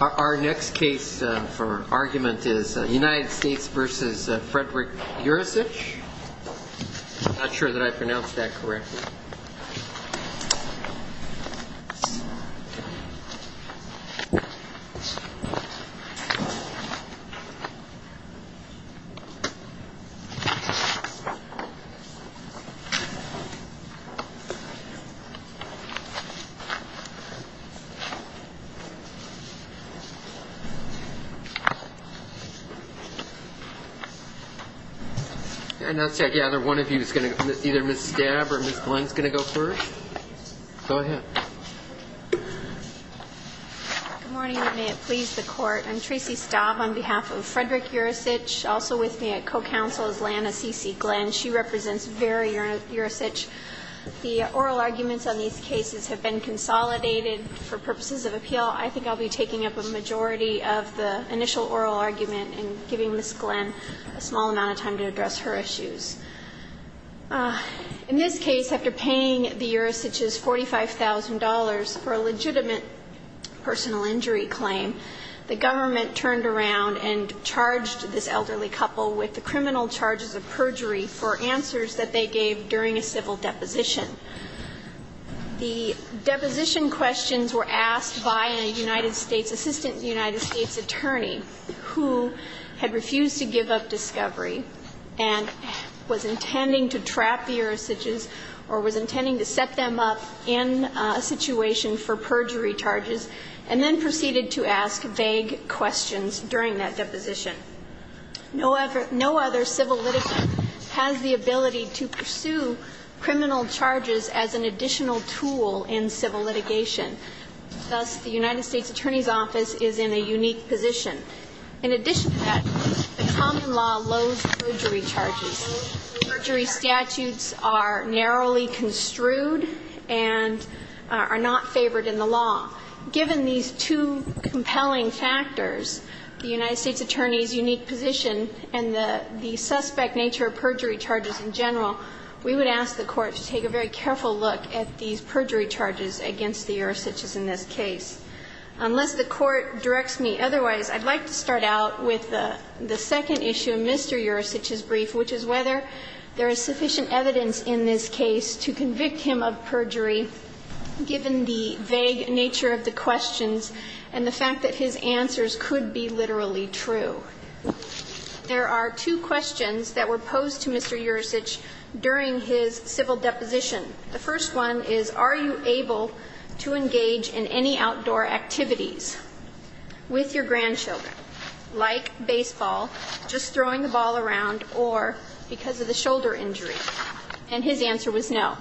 Our next case for argument is United States v. Frederick Yurisich. I'm not sure that I pronounced that correctly. I gather either Ms. Stab or Ms. Glenn is going to go first. Go ahead. Good morning and may it please the Court. I'm Tracy Stab on behalf of Frederick Yurisich. Also with me at co-counsel is Lana C.C. Glenn. She represents Vera Yurisich. The oral arguments on these cases have been consolidated for purposes of appeal. I think I'll be taking up a majority of the initial oral argument and giving Ms. Glenn a small amount of time to address her issues. In this case, after paying the Yurisichs $45,000 for a legitimate personal injury claim, the government turned around and charged this elderly couple with the criminal charges of perjury for answers that they gave during a civil deposition. The deposition questions were asked by a United States, assistant United States attorney who had refused to give up discovery and was intending to trap the Yurisichs or was intending to set them up in a situation for perjury charges and then proceeded to ask vague questions during that deposition. No other civil litigant has the ability to pursue criminal charges as an additional tool in civil litigation. Thus, the United States Attorney's Office is in a unique position. In addition to that, the common law loathes perjury charges. Perjury statutes are narrowly construed and are not favored in the law. Given these two compelling factors, the United States Attorney's unique position and the suspect nature of perjury charges in general, we would ask the Court to take a very careful look at these perjury charges against the Yurisichs in this case. Unless the Court directs me otherwise, I'd like to start out with the second issue in Mr. Yurisich's brief, which is whether there is sufficient evidence in this case to convict him of perjury, given the vague nature of the questions and the fact that his answers could be literally true. There are two questions that were posed to Mr. Yurisich during his civil deposition. The first one is, are you able to engage in any outdoor activities with your grandchildren, like baseball, just throwing the ball around, or because of the shoulder injury? And his answer was no.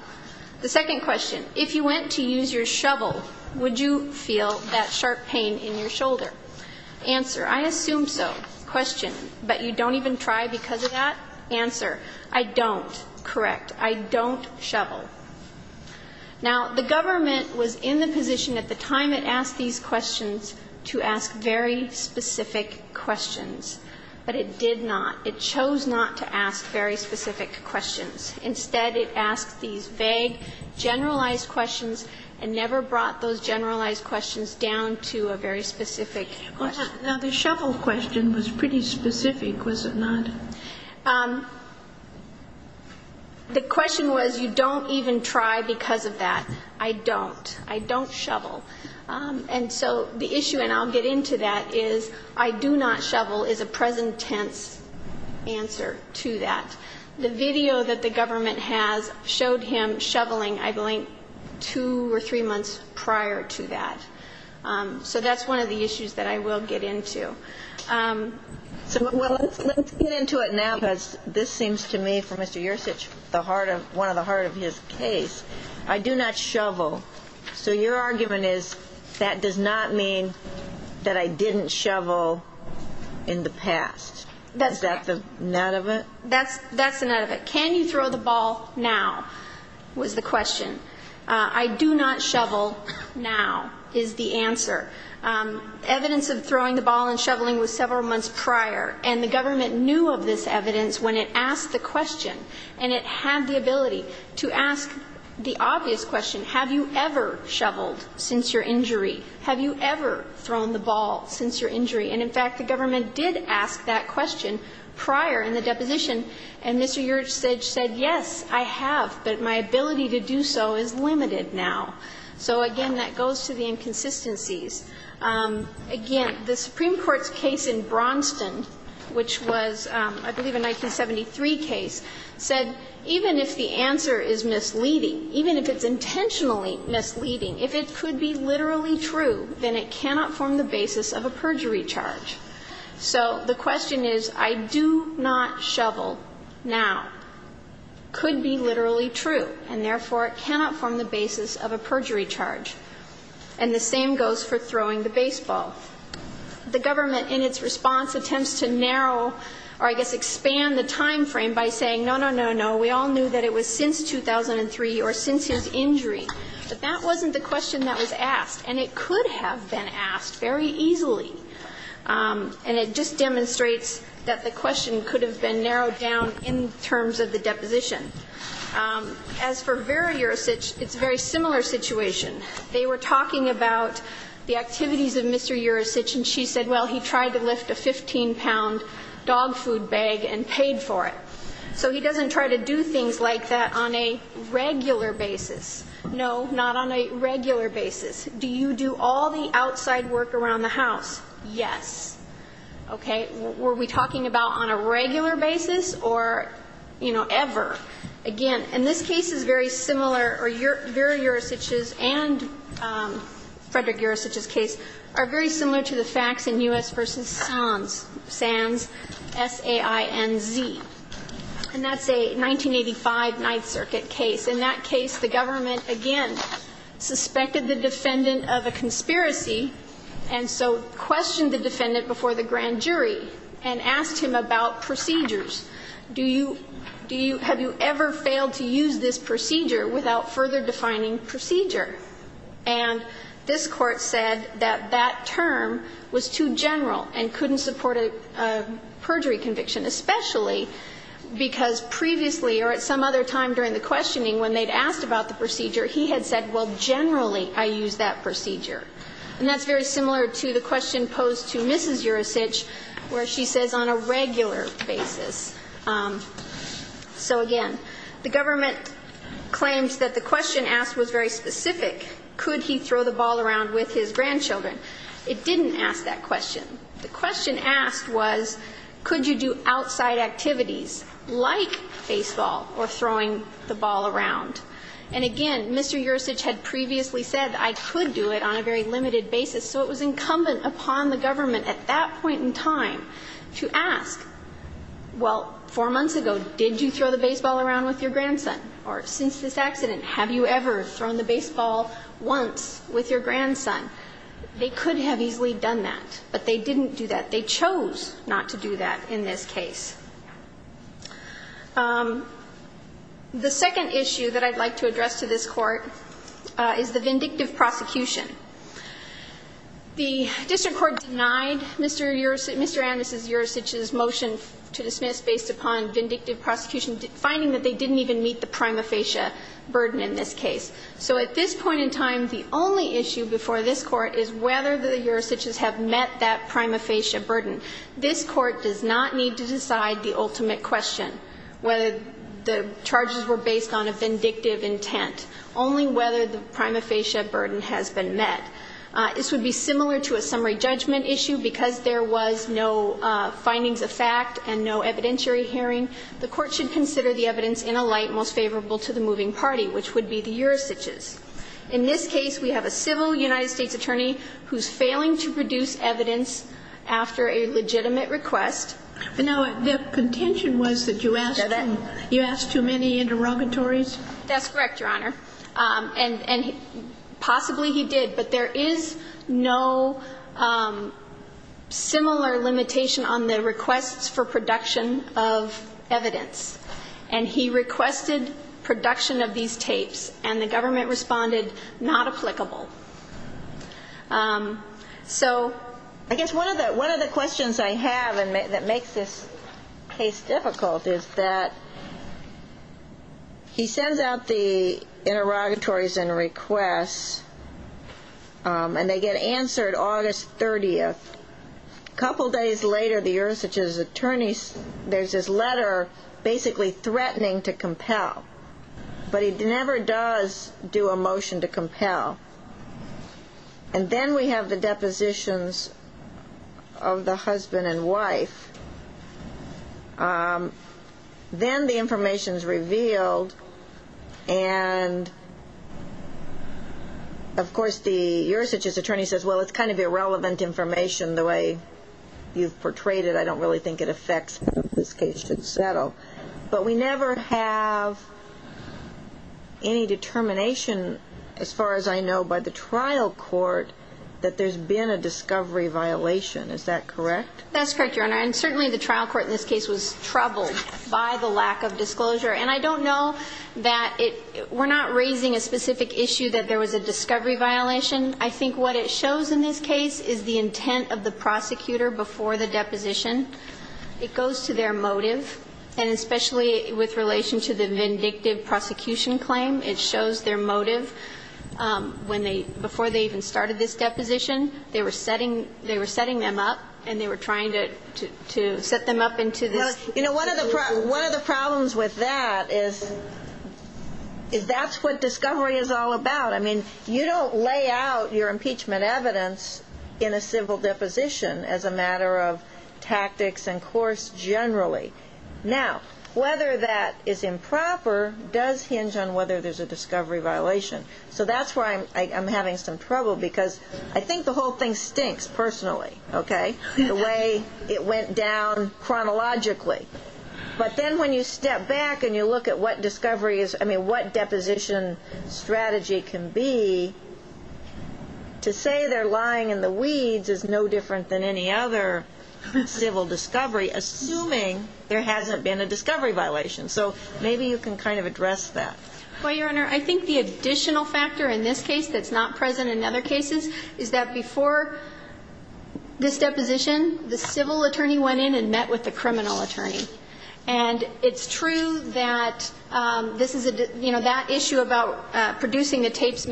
The second question, if you went to use your shovel, would you feel that sharp pain in your shoulder? Answer, I assume so. Question, but you don't even try because of that? Answer, I don't. Correct. I don't shovel. Now, the government was in the position at the time it asked these questions to ask very specific questions, but it did not. It chose not to ask very specific questions. Instead, it asked these vague, generalized questions and never brought those generalized questions down to a very specific question. Now, the shovel question was pretty specific, was it not? The question was, you don't even try because of that. I don't. I don't shovel. And so the issue, and I'll get into that, is I do not shovel is a present tense answer to that. The video that the government has showed him shoveling, I believe, two or three months prior to that. So that's one of the issues that I will get into. So let's get into it now, because this seems to me, for Mr. Yurisich, the heart of his case, I do not shovel. So your argument is that does not mean that I didn't shovel in the past. Is that the nut of it? That's the nut of it. Can you throw the ball now was the question. I do not shovel now is the answer. Evidence of throwing the ball and shoveling was several months prior, and the government knew of this evidence when it asked the question, and it had the ability to ask the obvious question, have you ever shoveled since your injury? Have you ever thrown the ball since your injury? And, in fact, the government did ask that question prior in the deposition, and Mr. Yurisich said, yes, I have, but my ability to do so is limited now. So, again, that goes to the inconsistencies. Again, the Supreme Court's case in Braunston, which was, I believe, a 1973 case, said even if the answer is misleading, even if it's intentionally misleading, if it could be literally true, then it cannot form the basis of a perjury charge. So the question is, I do not shovel now, could be literally true, and therefore it cannot form the basis of a perjury charge. And the same goes for throwing the baseball. The government, in its response, attempts to narrow or, I guess, expand the time frame by saying, no, no, no, no, we all knew that it was since 2003 or since his injury, but that wasn't the question that was asked. And it could have been asked very easily. And it just demonstrates that the question could have been narrowed down in terms of the deposition. As for Vera Yurisich, it's a very similar situation. They were talking about the activities of Mr. Yurisich, and she said, well, he tried to lift a 15-pound dog food bag and paid for it. So he doesn't try to do things like that on a regular basis. No, not on a regular basis. Do you do all the outside work around the house? Yes. Okay. Were we talking about on a regular basis or, you know, ever? Again, and this case is very similar, or Vera Yurisich's and Frederick Yurisich's case are very similar to the facts in U.S. v. Sands, S-A-I-N-Z. And that's a 1985 Ninth Circuit case. In that case, the government, again, suspected the defendant of a conspiracy and so questioned the defendant before the grand jury and asked him about procedures. Do you do you have you ever failed to use this procedure without further defining procedure? And this Court said that that term was too general and couldn't support a perjury conviction, especially because previously or at some other time during the questioning when they'd asked about the procedure, he had said, well, generally, I use that procedure. And that's very similar to the question posed to Mrs. Yurisich, where she says on a regular basis. So, again, the government claims that the question asked was very specific. Could he throw the ball around with his grandchildren? It didn't ask that question. The question asked was, could you do outside activities like baseball or throwing the ball around? And, again, Mr. Yurisich had previously said, I could do it on a very limited basis. So it was incumbent upon the government at that point in time to ask, well, four months ago, did you throw the baseball around with your grandson? Or since this accident, have you ever thrown the baseball once with your grandson? They could have easily done that, but they didn't do that. They chose not to do that in this case. The second issue that I'd like to address to this Court is the vindictive prosecution. The district court denied Mr. Yurisich's motion to dismiss based upon vindictive prosecution, finding that they didn't even meet the prima facie burden in this case. So at this point in time, the only issue before this Court is whether the Yurisichs have met that prima facie burden. This Court does not need to decide the ultimate question, whether the charges were based on a vindictive intent, only whether the prima facie burden has been met. This would be similar to a summary judgment issue. Because there was no findings of fact and no evidentiary hearing, the Court should consider the evidence in a light most favorable to the moving party, which would be the Yurisichs. In this case, we have a civil United States attorney who's failing to produce evidence after a legitimate request. Now, the contention was that you asked too many interrogatories? That's correct, Your Honor. And possibly he did. But there is no similar limitation on the requests for production of evidence. And he requested production of these tapes. And the government responded, not applicable. So ‑‑ I guess one of the questions I have that makes this case difficult is that he sends out the interrogatories and requests, and they get answered August 30th. A couple days later, the Yurisichs attorneys, there's this letter basically threatening to compel. But he never does do a motion to compel. And then we have the depositions of the husband and wife. Then the information is revealed. And of course, the Yurisichs attorney says, well, it's kind of irrelevant information the way you've portrayed it. I don't really think it affects how this case should settle. But we never have any determination as far as I know by the trial court that there's been a discovery violation. Is that correct? That's correct, Your Honor. And certainly the trial court in this case was troubled by the lack of disclosure. And I don't know that it ‑‑ we're not raising a specific issue that there was a discovery violation. I think what it shows in this case is the intent of the prosecutor before the deposition. It goes to their motive. And especially with relation to the vindictive prosecution claim, it shows their motive when they ‑‑ before they even started this deposition. They were setting them up. And they were trying to set them up into this ‑‑ Well, you know, one of the problems with that is that's what discovery is all about. I mean, you don't lay out your impeachment evidence in a civil deposition as a matter of tactics and course generally. Now, whether that is improper does hinge on whether there's a discovery violation. So that's where I'm having some trouble, because I think the whole thing stinks personally, okay, the way it went down chronologically. But then when you step back and you look at what discovery is ‑‑ I mean, what deposition strategy can be, to say they're lying in the weeds is no different than any other civil discovery, assuming there hasn't been a discovery violation. So maybe you can kind of address that. Well, Your Honor, I think the additional factor in this case that's not present in other cases is that before this deposition, the civil attorney went in and met with the criminal attorney. And it's true that this is a ‑‑ you know, that issue about producing the evidence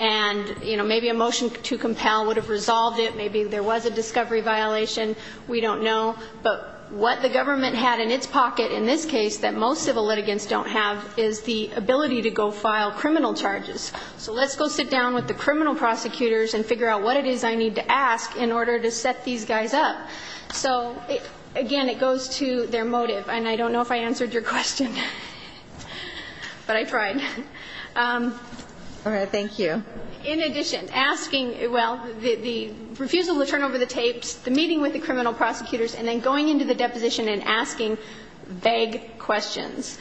and, you know, maybe a motion to compel would have resolved it. Maybe there was a discovery violation. We don't know. But what the government had in its pocket in this case that most civil litigants don't have is the ability to go file criminal charges. So let's go sit down with the criminal prosecutors and figure out what it is I need to ask in order to set these guys up. So, again, it goes to their motive. And I don't think it's a good idea to do that. In addition, asking ‑‑ well, the refusal to turn over the tapes, the meeting with the criminal prosecutors, and then going into the deposition and asking vague questions.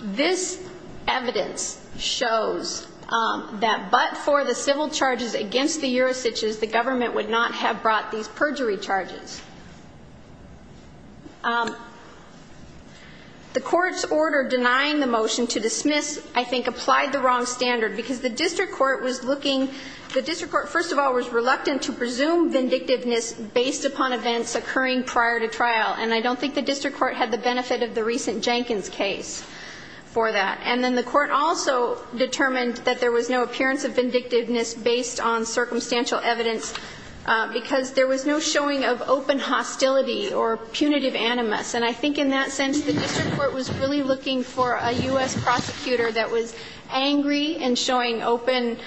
This evidence shows that but for the civil charges against the Urosiches, the government would not have brought these perjury charges. The court's order denying the motion to dismiss, I think, applied the wrong standard because the district court was looking ‑‑ the district court, first of all, was reluctant to presume vindictiveness based upon events occurring prior to trial. And I don't think the district court had the benefit of the recent Jenkins case for that. And then the court also determined that there was no appearance of vindictiveness based on circumstantial evidence because there was no showing of open hostility or punitive animus. And I think in that sense, the district court was really looking for a U.S. prosecutor that was angry and showing open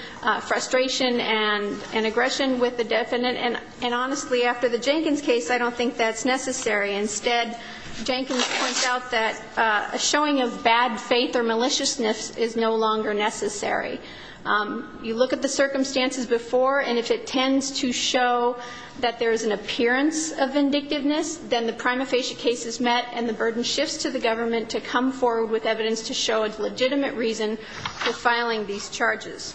frustration and aggression with the defendant. And honestly, after the Jenkins case, I don't think that's necessary. Instead, Jenkins points out that a showing of bad faith or maliciousness is no longer necessary. You look at the circumstances before, and if it tends to show that there is an appearance of vindictiveness, then the prima facie case is met and the burden shifts to the government to come forward with evidence to show a legitimate reason for filing these charges.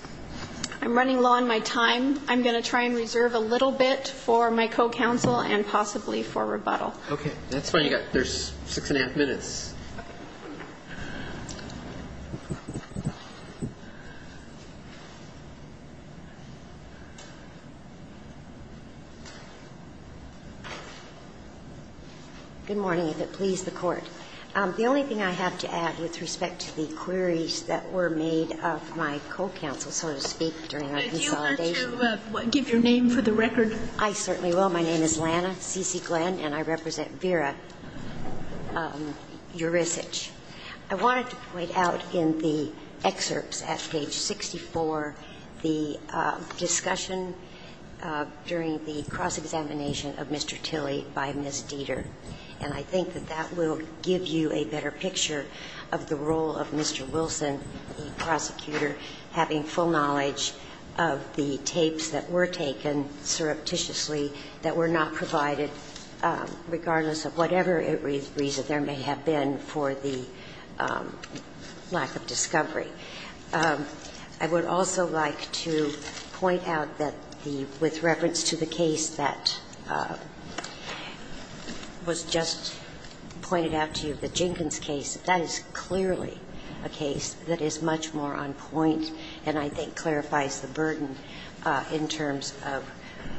I'm running low on my time. I'm going to try and reserve a little bit for my co‑counsel and possibly for rebuttal. Okay. That's fine. You've got ‑‑ there's six and a half minutes. Good morning, if it please the Court. The only thing I have to add with respect to the queries that were made of my co‑counsel, so to speak, during our consolidation I'd like to give your name for the record. I certainly will. My name is Lana C.C. Glenn, and I represent Vera Urisich. I wanted to point out in the excerpts at page 64 the discussion during the cross‑examination of Mr. Tilley by Ms. Dieter. And I think that that will give you a better picture of the role of Mr. Wilson, the prosecutor, having full knowledge of the tapes that were taken surreptitiously that were not provided, regardless of whatever reason there may have been for the lack of discovery. I would also like to point out that the ‑‑ with reference to the case that was just pointed out to you, the Jenkins case, that is clearly a case that is much more on point and I think clarifies the burden in terms of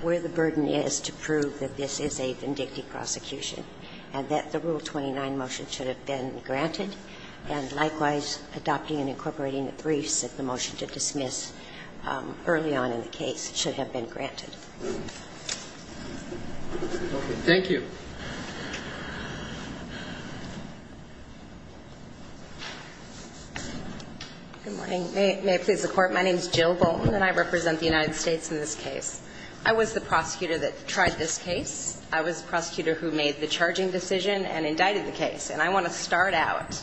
where the burden is to prove that this is a vindictive prosecution, and that the Rule 29 motion should have been granted. And likewise, adopting and incorporating the briefs that the motion to dismiss early on in the case should have been granted. Thank you. Good morning. May it please the Court. My name is Jill Bolton, and I represent the United States in this case. I was the prosecutor that tried this case. I was the prosecutor who made the charging decision and indicted the case. And I want to start out,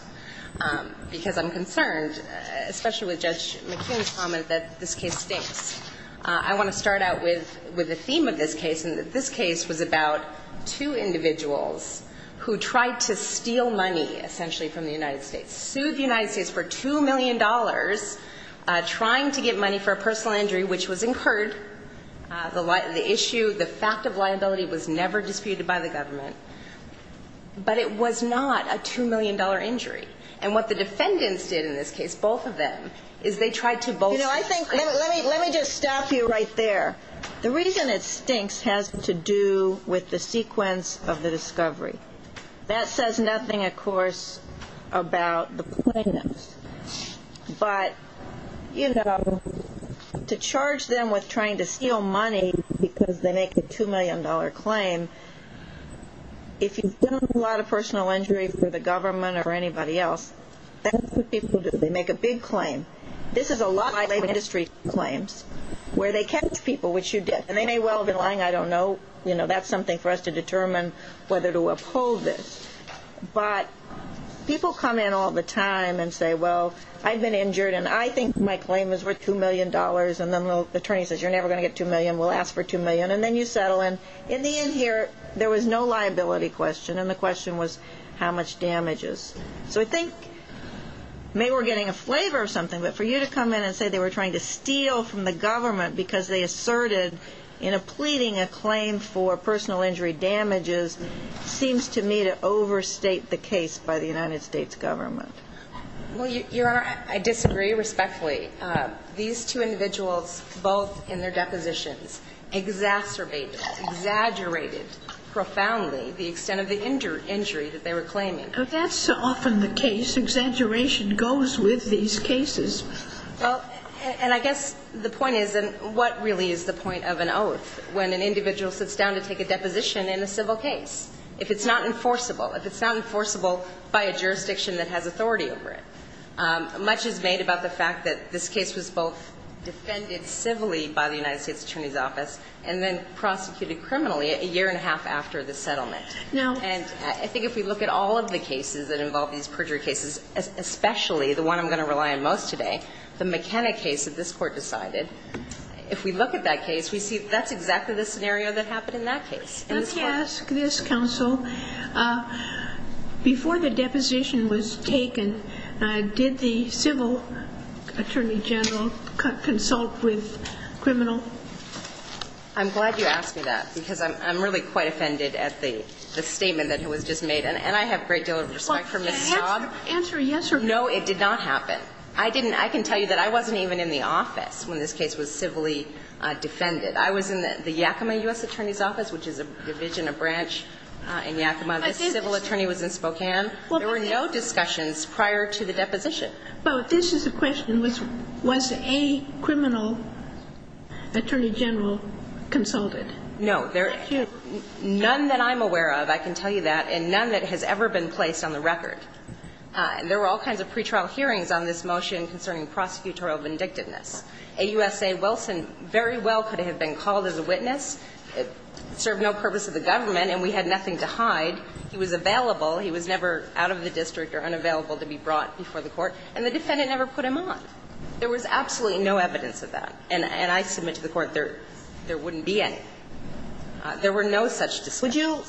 because I'm concerned, especially with Judge McKeon's comment that this case stinks, I want to start out with the theme of this case, and that this case was about two individuals who tried to steal money, essentially, from the United States. Sued the United States for $2 million, trying to get money for a personal injury, which was incurred. The issue, the fact of liability was never disputed by the government. But it was not a $2 million injury. And what the defendants did in this case, both of them, is they tried to both ‑‑ Let me just stop you right there. The reason it stinks has to do with the sequence of the discovery. That says nothing, of course, about the plaintiffs. But, you know, to charge them with trying to steal money because they make a $2 million claim, if you've done a lot of personal injury for the government or anybody else, that's what they do. They make a lot of industry claims where they catch people, which you did. And they may well have been lying. I don't know. That's something for us to determine whether to uphold this. But people come in all the time and say, well, I've been injured, and I think my claim is worth $2 million. And then the attorney says, you're never going to get $2 million. We'll ask for $2 million. And then you settle in. In the end here, there was no liability question. And the question was how much damage is. So I think maybe we're getting a flavor of something. But for you to come in and say they were trying to steal from the government because they asserted in pleading a claim for personal injury damages seems to me to overstate the case by the United States government. Well, Your Honor, I disagree respectfully. These two individuals, both in their depositions, exacerbated, exaggerated profoundly the extent of the injury that they were claiming. But that's often the case. Exaggeration goes with these cases. Well, and I guess the point is, what really is the point of an oath when an individual sits down to take a deposition in a civil case? If it's not enforceable, if it's not warranted, there's no authority over it. Much is made about the fact that this case was both defended civilly by the United States Attorney's Office and then prosecuted criminally a year and a half after the settlement. No. And I think if we look at all of the cases that involve these perjury cases, especially the one I'm going to rely on most today, the McKenna case that this Court decided, if we look at that case, we see that's exactly the scenario that happened in that case. Let me ask this, Counsel. Before the deposition was taken, did the civil attorney general consult with the criminal? I'm glad you asked me that, because I'm really quite offended at the statement that was just made. And I have a great deal of respect for Ms. Staub. Answer yes or no. No, it did not happen. I didn't. I can tell you that I wasn't even in the office when this case was civilly defended. I was in the Yakima U.S. Attorney's Office, which is a division, a branch in Yakima. The civil attorney was in Spokane. There were no discussions prior to the deposition. But this is the question. Was a criminal attorney general consulted? No. None that I'm aware of, I can tell you that, and none that has ever been placed on the record. There were all kinds of pretrial hearings on this motion concerning prosecutorial vindictiveness. AUSA Wilson very well could have been called as a witness, served no purpose of the government, and we had nothing to hide. He was available. He was never out of the district or unavailable to be brought before the court. And the defendant never put him on. There was absolutely no evidence of that. And I submit to the Court there wouldn't be any. There were no such discussions.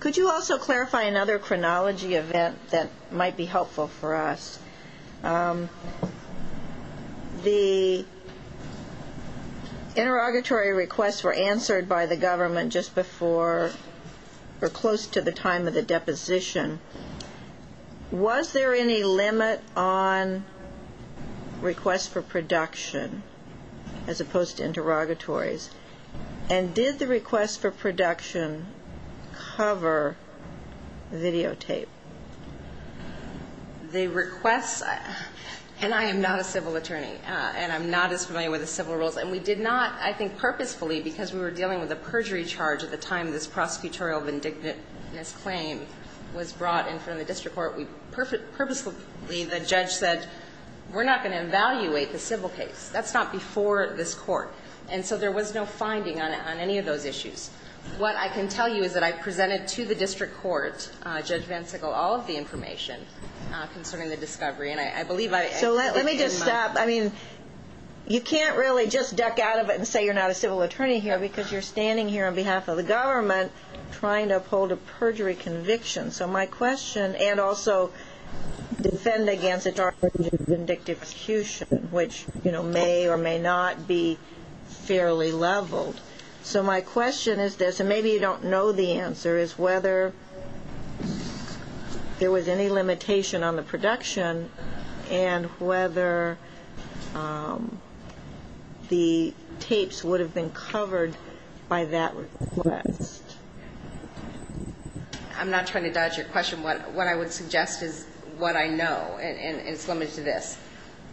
Could you also clarify another chronology event that might be helpful for us? The interrogatory requests were answered by the government just before or close to the time of the deposition. Was there any limit on requests for production as opposed to interrogatories? And did the requests for production cover videotape? The requests, and I am not a civil attorney, and I'm not as familiar with the civil rules, and we did not, I think, purposefully, because we were dealing with a perjury charge at the time this prosecutorial vindictiveness claim was brought in front of the district court, we purposefully, the judge said, we're not going to evaluate the civil case. That's not before this court. And so there was no finding on any of those issues. What I can tell you is that I presented to the district court, Judge VanSickle, all of the information concerning the discovery. And I believe I – So let me just stop. I mean, you can't really just duck out of it and say you're not a civil attorney here because you're standing here on behalf of the government trying to uphold a perjury conviction. So my question, and also defend against a charge of vindictive prosecution, which may or may not be fairly leveled. So my question is this, and maybe you don't know the answer, is whether there was any limitation on the production and whether the tapes would have been covered by that request. I'm not trying to dodge your question. What I would suggest is what I know, and it's limited to this.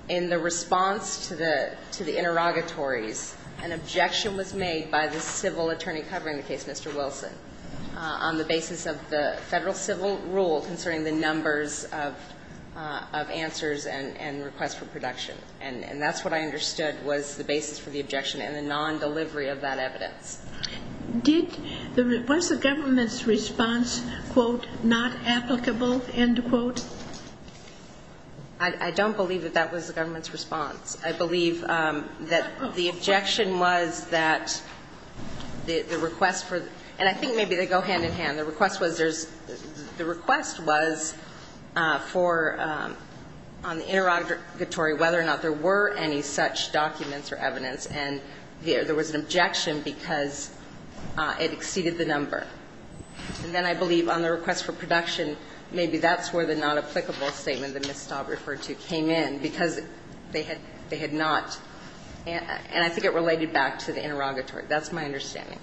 In the response to the interrogatories, an objection was made by the civil attorney covering the case, Mr. Wilson, on the basis of the federal civil rule concerning the numbers of answers and requests for production. And that's what I understood was the basis for the objection and the non-delivery of that evidence. Was the government's response, quote, not applicable, end quote? I don't believe that that was the government's response. I believe that the objection was that the request for the – and I think maybe they go hand in hand. The request was there's – the request was for – on the interrogatory whether or not there were any such documents or evidence, and there was an objection because it exceeded the number. And then I believe on the request for production, maybe that's where the not applicable statement that Ms. Staub referred to came in because they had not. And I think it related back to the interrogatory. That's my understanding.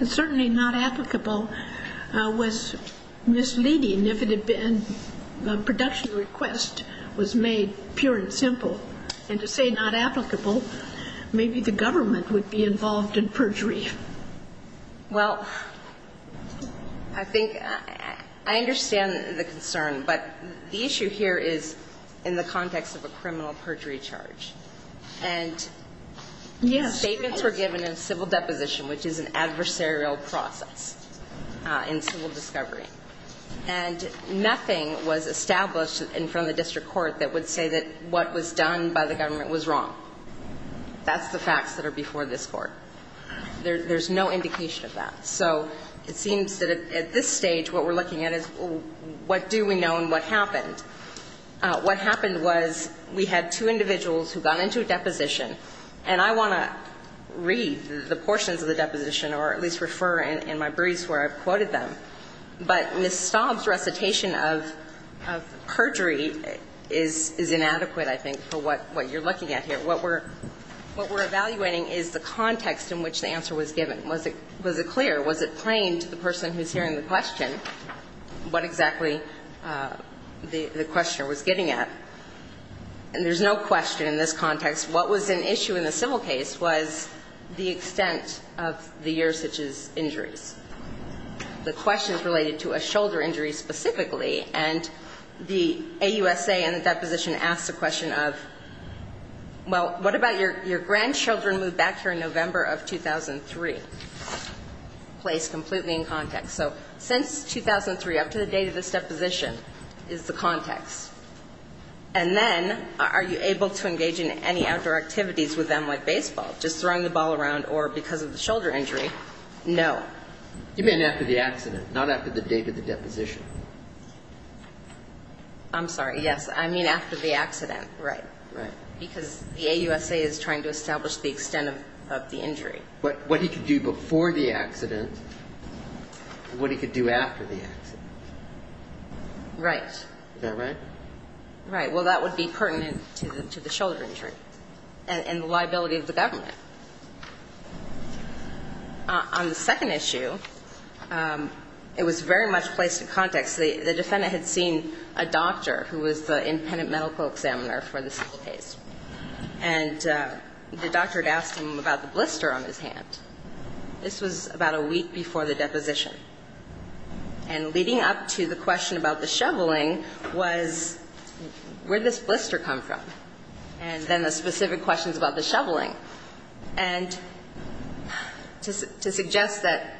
And certainly not applicable was misleading if it had been – the production request was made pure and simple. And to say not applicable, maybe the government would be involved in perjury. Well, I think – I understand the concern, but the issue here is in the context of a criminal perjury charge. And these statements were given in civil deposition, which is an adversarial process in civil discovery. And nothing was established in front of the district court that would say that what was done by the government was wrong. That's the facts that are before this Court. There's no indication of that. So it seems that at this stage what we're looking at is what do we know and what happened. What happened was we had two individuals who got into a deposition. And I want to read the portions of the deposition or at least refer in my briefs where I've quoted them. But Ms. Staub's recitation of perjury is inadequate, I think, for what you're looking at here. What we're evaluating is the context in which the answer was given. Was it clear? Was it plain to the person who's hearing the question what exactly the questioner was getting at? And there's no question in this context. What was an issue in the civil case was the extent of the year such as injuries. The question is related to a shoulder injury specifically. And the AUSA in the deposition asks a question of, well, what about your grandchildren moved back here in November of 2003? Placed completely in context. So since 2003, up to the date of this deposition, is the context. And then are you able to engage in any outdoor activities with them like baseball, just throwing the ball around, or because of the shoulder injury? No. You mean after the accident, not after the date of the deposition. I'm sorry, yes. I mean after the accident, right. Right. Because the AUSA is trying to establish the extent of the injury. But what he could do before the accident and what he could do after the accident. Right. Is that right? Right. Well, that would be pertinent to the shoulder injury and the liability of the government. On the second issue, it was very much placed in context. The defendant had seen a doctor who was the independent medical examiner for the civil case. And the doctor had asked him about the blister on his hand. This was about a week before the deposition. And leading up to the question about the shoveling was, where did this blister come from? And then the specific questions about the shoveling. And to suggest that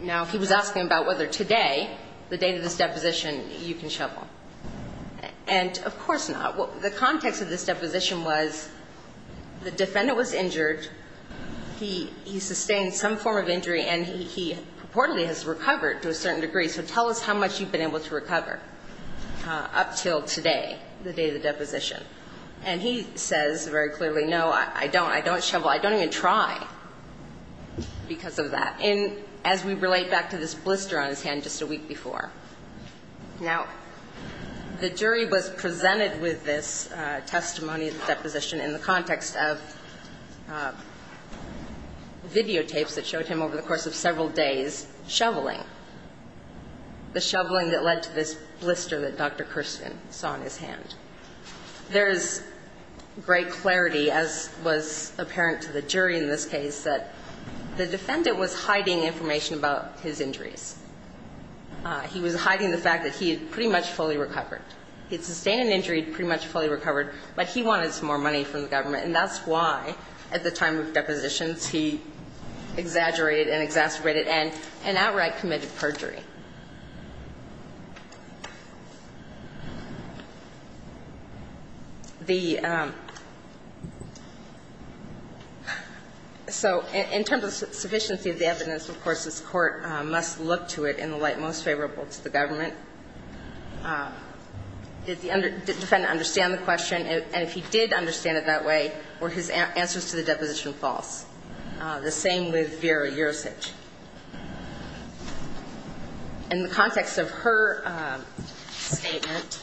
now he was asking about whether today, the date of this deposition, you can shovel. And of course not. The context of this deposition was the defendant was injured, he sustained some form of injury, and he reportedly has recovered to a certain degree. So tell us how much you've been able to recover up until today, the day of the deposition. And he says very clearly, no, I don't. I don't shovel. I don't even try because of that. And as we relate back to this blister on his hand just a week before. Now, the jury was presented with this testimony of the deposition in the context of videotapes that showed him over the course of several days shoveling. The shoveling that led to this blister that Dr. Kirsten saw in his hand. There is great clarity, as was apparent to the jury in this case, that the defendant was hiding information about his injuries. He was hiding the fact that he had pretty much fully recovered. He had sustained an injury, pretty much fully recovered, but he wanted some more money from the government. And that's why, at the time of depositions, he exaggerated and exacerbated and outright committed perjury. The so in terms of sufficiency of the evidence, of course, this Court must look to it in the light most favorable to the government. Did the defendant understand the question? And if he did understand it that way, were his answers to the deposition false? The same with Vera Yurich. In the context of her statement,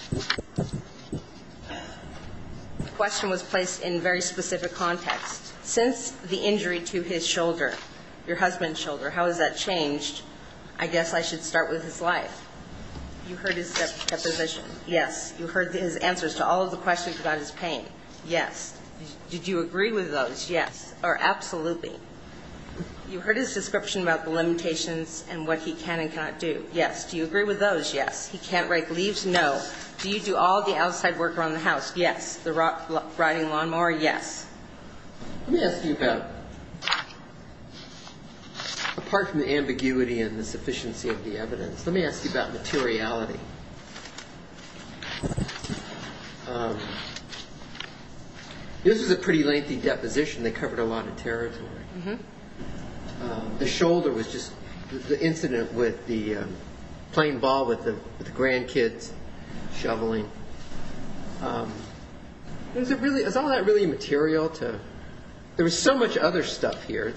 the question was placed in very specific context. Since the injury to his shoulder, your husband's shoulder, how has that changed? I guess I should start with his life. You heard his deposition. Yes. You heard his answers to all of the questions about his pain. Yes. Did you agree with those? Yes. Or absolutely. You heard his description about the limitations and what he can and cannot do. Yes. Do you agree with those? Yes. He can't rake leaves? No. Do you do all the outside work around the house? Yes. The riding lawnmower? Yes. Let me ask you about, apart from the ambiguity and the sufficiency of the evidence, let me ask you about materiality. This was a pretty lengthy deposition. They covered a lot of territory. The shoulder was just the incident with the playing ball with the grandkids, shoveling. Is all that really material? There was so much other stuff here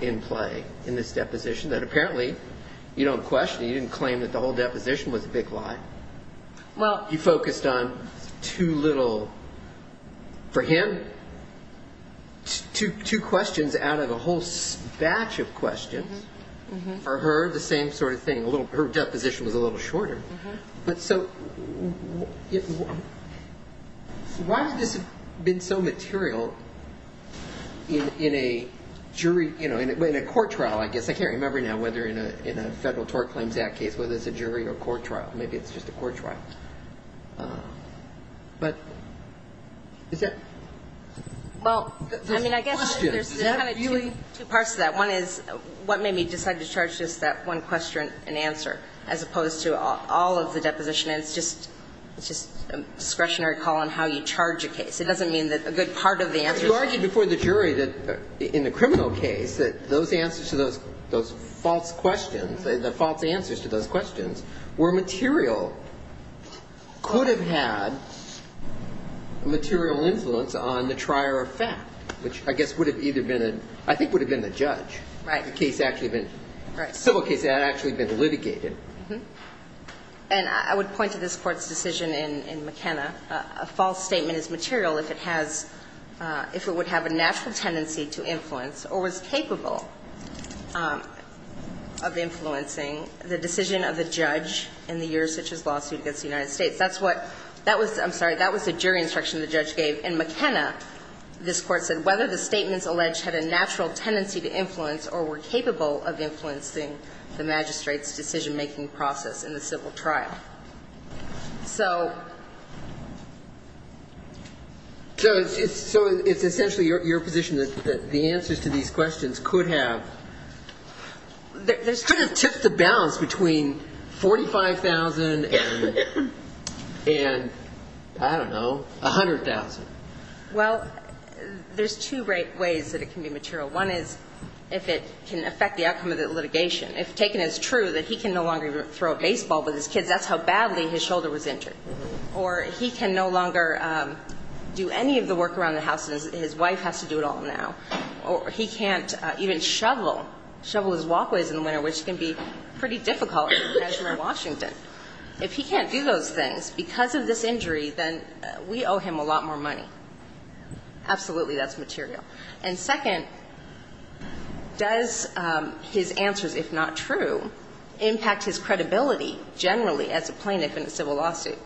in play in this deposition that apparently you don't question. You didn't claim that the whole deposition was a big lie. Well, you focused on two little, for him, two questions out of a whole batch of questions. For her, the same sort of thing. Her deposition was a little shorter. So why has this been so material in a jury, in a court trial, I guess? I can't remember now whether in a Federal Tort Claims Act case whether it's a jury or a court trial. Maybe it's just a court trial. But is that the question? I mean, I guess there's kind of two parts to that. One is what made me decide to charge just that one question and answer as opposed to all of the deposition? And it's just a discretionary call on how you charge a case. It doesn't mean that a good part of the answer is there. You argued before the jury that in the criminal case that those answers to those false questions, the false answers to those questions were material, could have had material influence on the trier of fact, which I guess would have either been a – I think would have been the judge. Right. The case actually had been – the civil case had actually been litigated. And I would point to this Court's decision in McKenna. A false statement is material if it has – if it would have a natural tendency to influence or was capable of influencing the decision of the judge in the Eurasych's lawsuit against the United States. That's what – that was – I'm sorry. That was the jury instruction the judge gave. In McKenna, this Court said, whether the statements alleged had a natural tendency to influence or were capable of influencing the magistrate's decision-making process in the civil trial. So – So it's essentially your position that the answers to these questions could have – Could have tipped the balance between 45,000 and I don't know, 100,000. Well, there's two ways that it can be material. One is if it can affect the outcome of the litigation. If taken as true that he can no longer throw a baseball with his kids, that's how badly his shoulder was injured. Or he can no longer do any of the work around the house. His wife has to do it all now. Or he can't even shovel, shovel his walkways in the winter, which can be pretty difficult as for Washington. If he can't do those things because of this injury, then we owe him a lot more money. Absolutely, that's material. And second, does his answers, if not true, impact his credibility generally as a plaintiff in a civil lawsuit?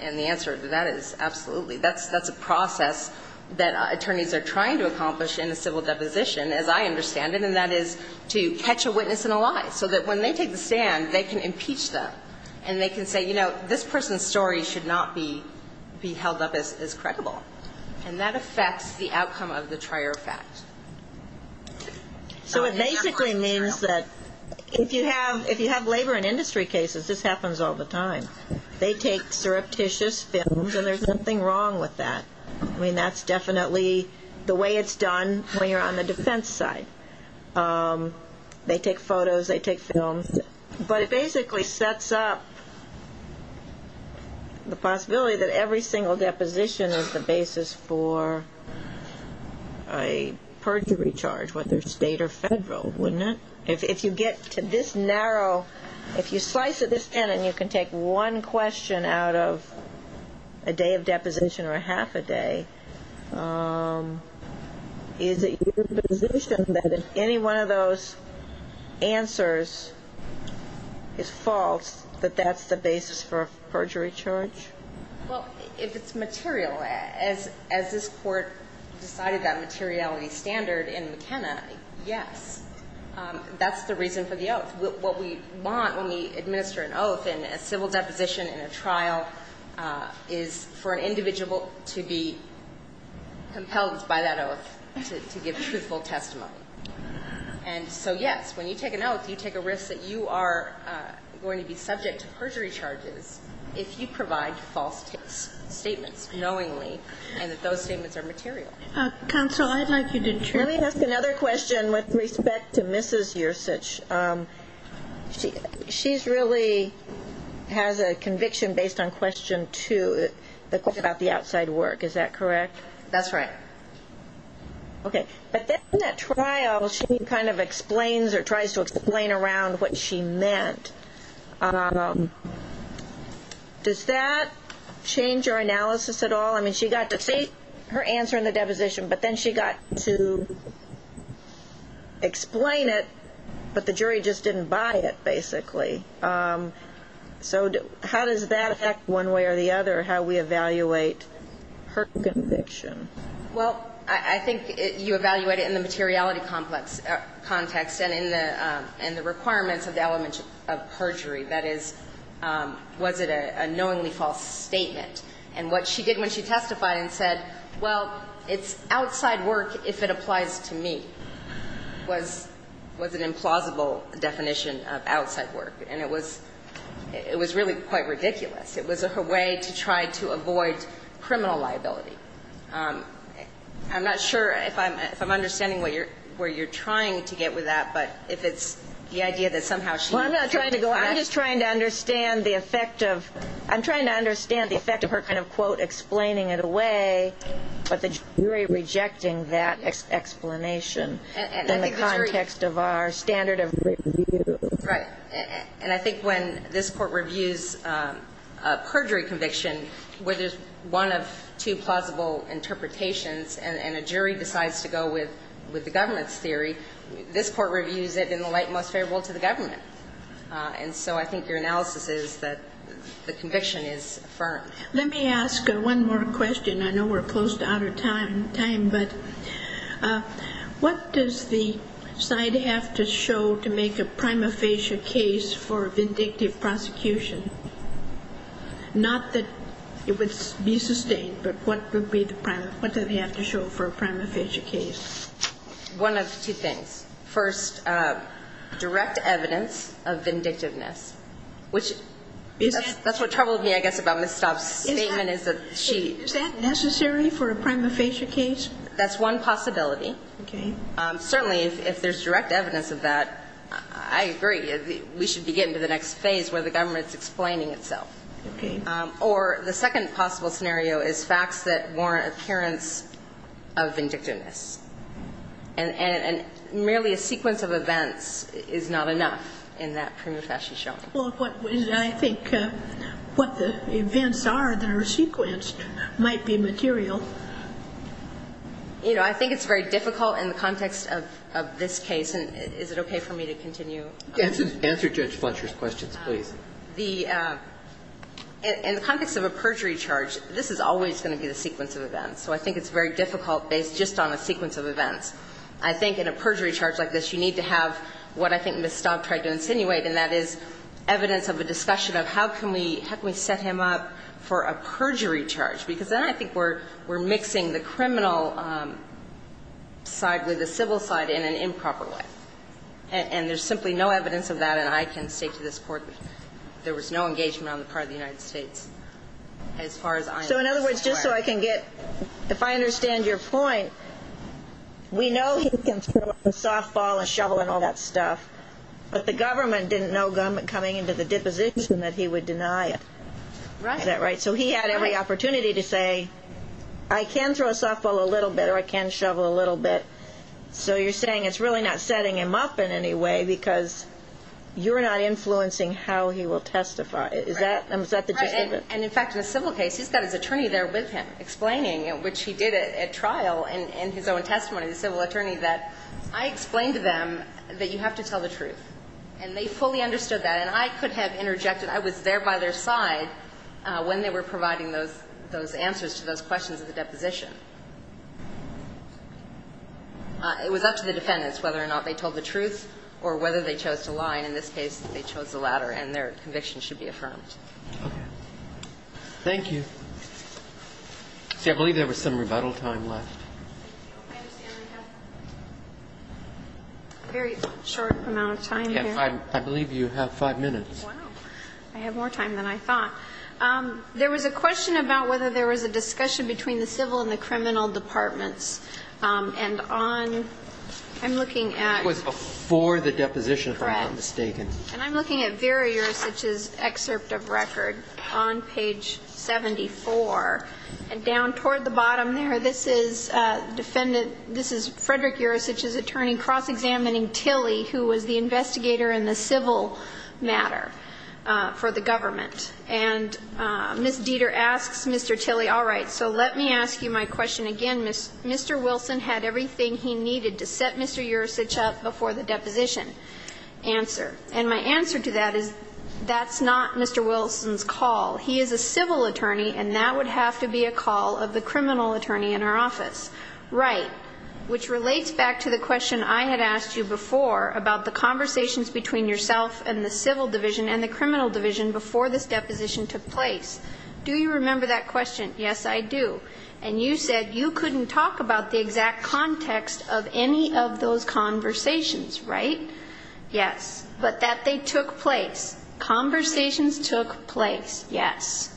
And the answer to that is absolutely. That's a process that attorneys are trying to accomplish in a civil deposition, as I understand it, and that is to catch a witness in a lie, so that when they take the stand, they can impeach them. And they can say, you know, this person's story should not be held up as credible. And that affects the outcome of the trial. So it basically means that if you have labor and industry cases, this happens all the time. They take surreptitious films, and there's nothing wrong with that. I mean, that's definitely the way it's done when you're on the defense side. They take photos, they take films. But it basically sets up the possibility that every single deposition is the basis for a perjury charge, whether state or federal, wouldn't it? If you get to this narrow, if you slice it this thin, and you can take one question out of a day of deposition or half a day, is it your position that if any one of those answers is false, that that's the basis for a perjury charge? Well, if it's material. As this Court decided that materiality standard in McKenna, yes, that's the reason for the oath. What we want when we administer an oath in a civil deposition in a trial is for an individual to be compelled by that oath to give truthful testimony. And so, yes, when you take an oath, you take a risk that you are going to be subject to perjury charges if you provide false statements knowingly, and that those statements are material. Counsel, I'd like you to check. Let me ask another question with respect to Mrs. Yersuch. She really has a conviction based on question two, the question about the outside work. Is that correct? That's right. Okay. But then in that trial, she kind of explains or tries to explain around what she meant. Does that change your analysis at all? Well, I mean, she got to state her answer in the deposition, but then she got to explain it, but the jury just didn't buy it, basically. So how does that affect one way or the other, how we evaluate her conviction? Well, I think you evaluate it in the materiality context and in the requirements of the element of perjury. That is, was it a knowingly false statement? And what she did when she testified and said, well, it's outside work if it applies to me, was an implausible definition of outside work. And it was really quite ridiculous. It was her way to try to avoid criminal liability. I'm not sure if I'm understanding where you're trying to get with that, but if it's the idea that somehow she's trying to go after you. I'm trying to understand the effect of her kind of, quote, explaining it away, but the jury rejecting that explanation in the context of our standard of review. Right. And I think when this Court reviews a perjury conviction where there's one of two plausible interpretations and a jury decides to go with the government's theory, this Court reviews it in the light most favorable to the government. And so I think your analysis is that the conviction is affirmed. Let me ask one more question. I know we're close to out of time, but what does the side have to show to make a prima facie case for vindictive prosecution? Not that it would be sustained, but what would be the prime, what do they have to show for a prima facie case? One of two things. First, direct evidence of vindictiveness, which that's what troubled me, I guess, about Ms. Staub's statement is that she – Is that necessary for a prima facie case? That's one possibility. Okay. Certainly, if there's direct evidence of that, I agree. We should be getting to the next phase where the government's explaining itself. Okay. Or the second possible scenario is facts that warrant appearance of vindictiveness. And merely a sequence of events is not enough in that prima facie showing. Well, I think what the events are that are sequenced might be material. You know, I think it's very difficult in the context of this case, and is it okay for me to continue? Answer Judge Fletcher's questions, please. The – in the context of a perjury charge, this is always going to be the sequence of events, so I think it's very difficult based just on a sequence of events. I think in a perjury charge like this, you need to have what I think Ms. Staub tried to insinuate, and that is evidence of a discussion of how can we – how can we set him up for a perjury charge, because then I think we're mixing the criminal side with the civil side in an improper way. And there's simply no evidence of that, and I can state to this Court there was no engagement on the part of the United States as far as I am aware. So in other words, just so I can get – if I understand your point, we know he can throw a softball, a shovel, and all that stuff, but the government didn't know coming into the deposition that he would deny it. Right. Is that right? So he had every opportunity to say, I can throw a softball a little bit, or I can shovel a little bit. So you're saying it's really not setting him up in any way because you're not influencing how he will testify. Right. Is that the – Right. And in fact, in a civil case, he's got his attorney there with him explaining, which he did at trial in his own testimony, the civil attorney, that I explained to them that you have to tell the truth, and they fully understood that, and I could have interjected. I was there by their side when they were providing those answers to those questions at the deposition. It was up to the defendants whether or not they told the truth or whether they chose to lie. And in this case, they chose the latter, and their conviction should be affirmed. Okay. Thank you. See, I believe there was some rebuttal time left. I understand we have a very short amount of time here. I believe you have five minutes. Wow. I have more time than I thought. There was a question about whether there was a discussion between the civil and the criminal departments. And on – I'm looking at – It was before the deposition, if I'm not mistaken. Right. And I'm looking at Vera Juricich's excerpt of record on page 74. And down toward the bottom there, this is defendant – this is Frederick Juricich's attorney cross-examining Tilley, who was the investigator in the civil matter for the government. And Ms. Dieter asks Mr. Tilley, all right, so let me ask you my question again. Mr. Wilson had everything he needed to set Mr. Juricich up before the deposition answer. And my answer to that is that's not Mr. Wilson's call. He is a civil attorney, and that would have to be a call of the criminal attorney in our office. Right. Which relates back to the question I had asked you before about the conversations between yourself and the civil division and the criminal division before this deposition took place. Do you remember that question? Yes, I do. And you said you couldn't talk about the exact context of any of those conversations, right? Yes. But that they took place. Conversations took place. Yes.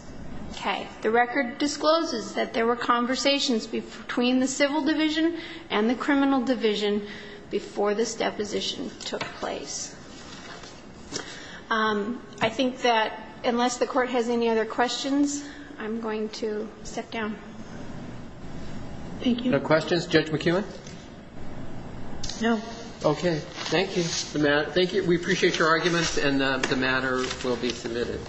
Okay. The record discloses that there were conversations between the civil division and the criminal division before this deposition took place. I think that unless the Court has any other questions, I'm going to step down. Thank you. No questions? Judge McKeown? No. Okay. Thank you. Thank you. We appreciate your arguments, and the matter will be submitted. Thank you. Thank you.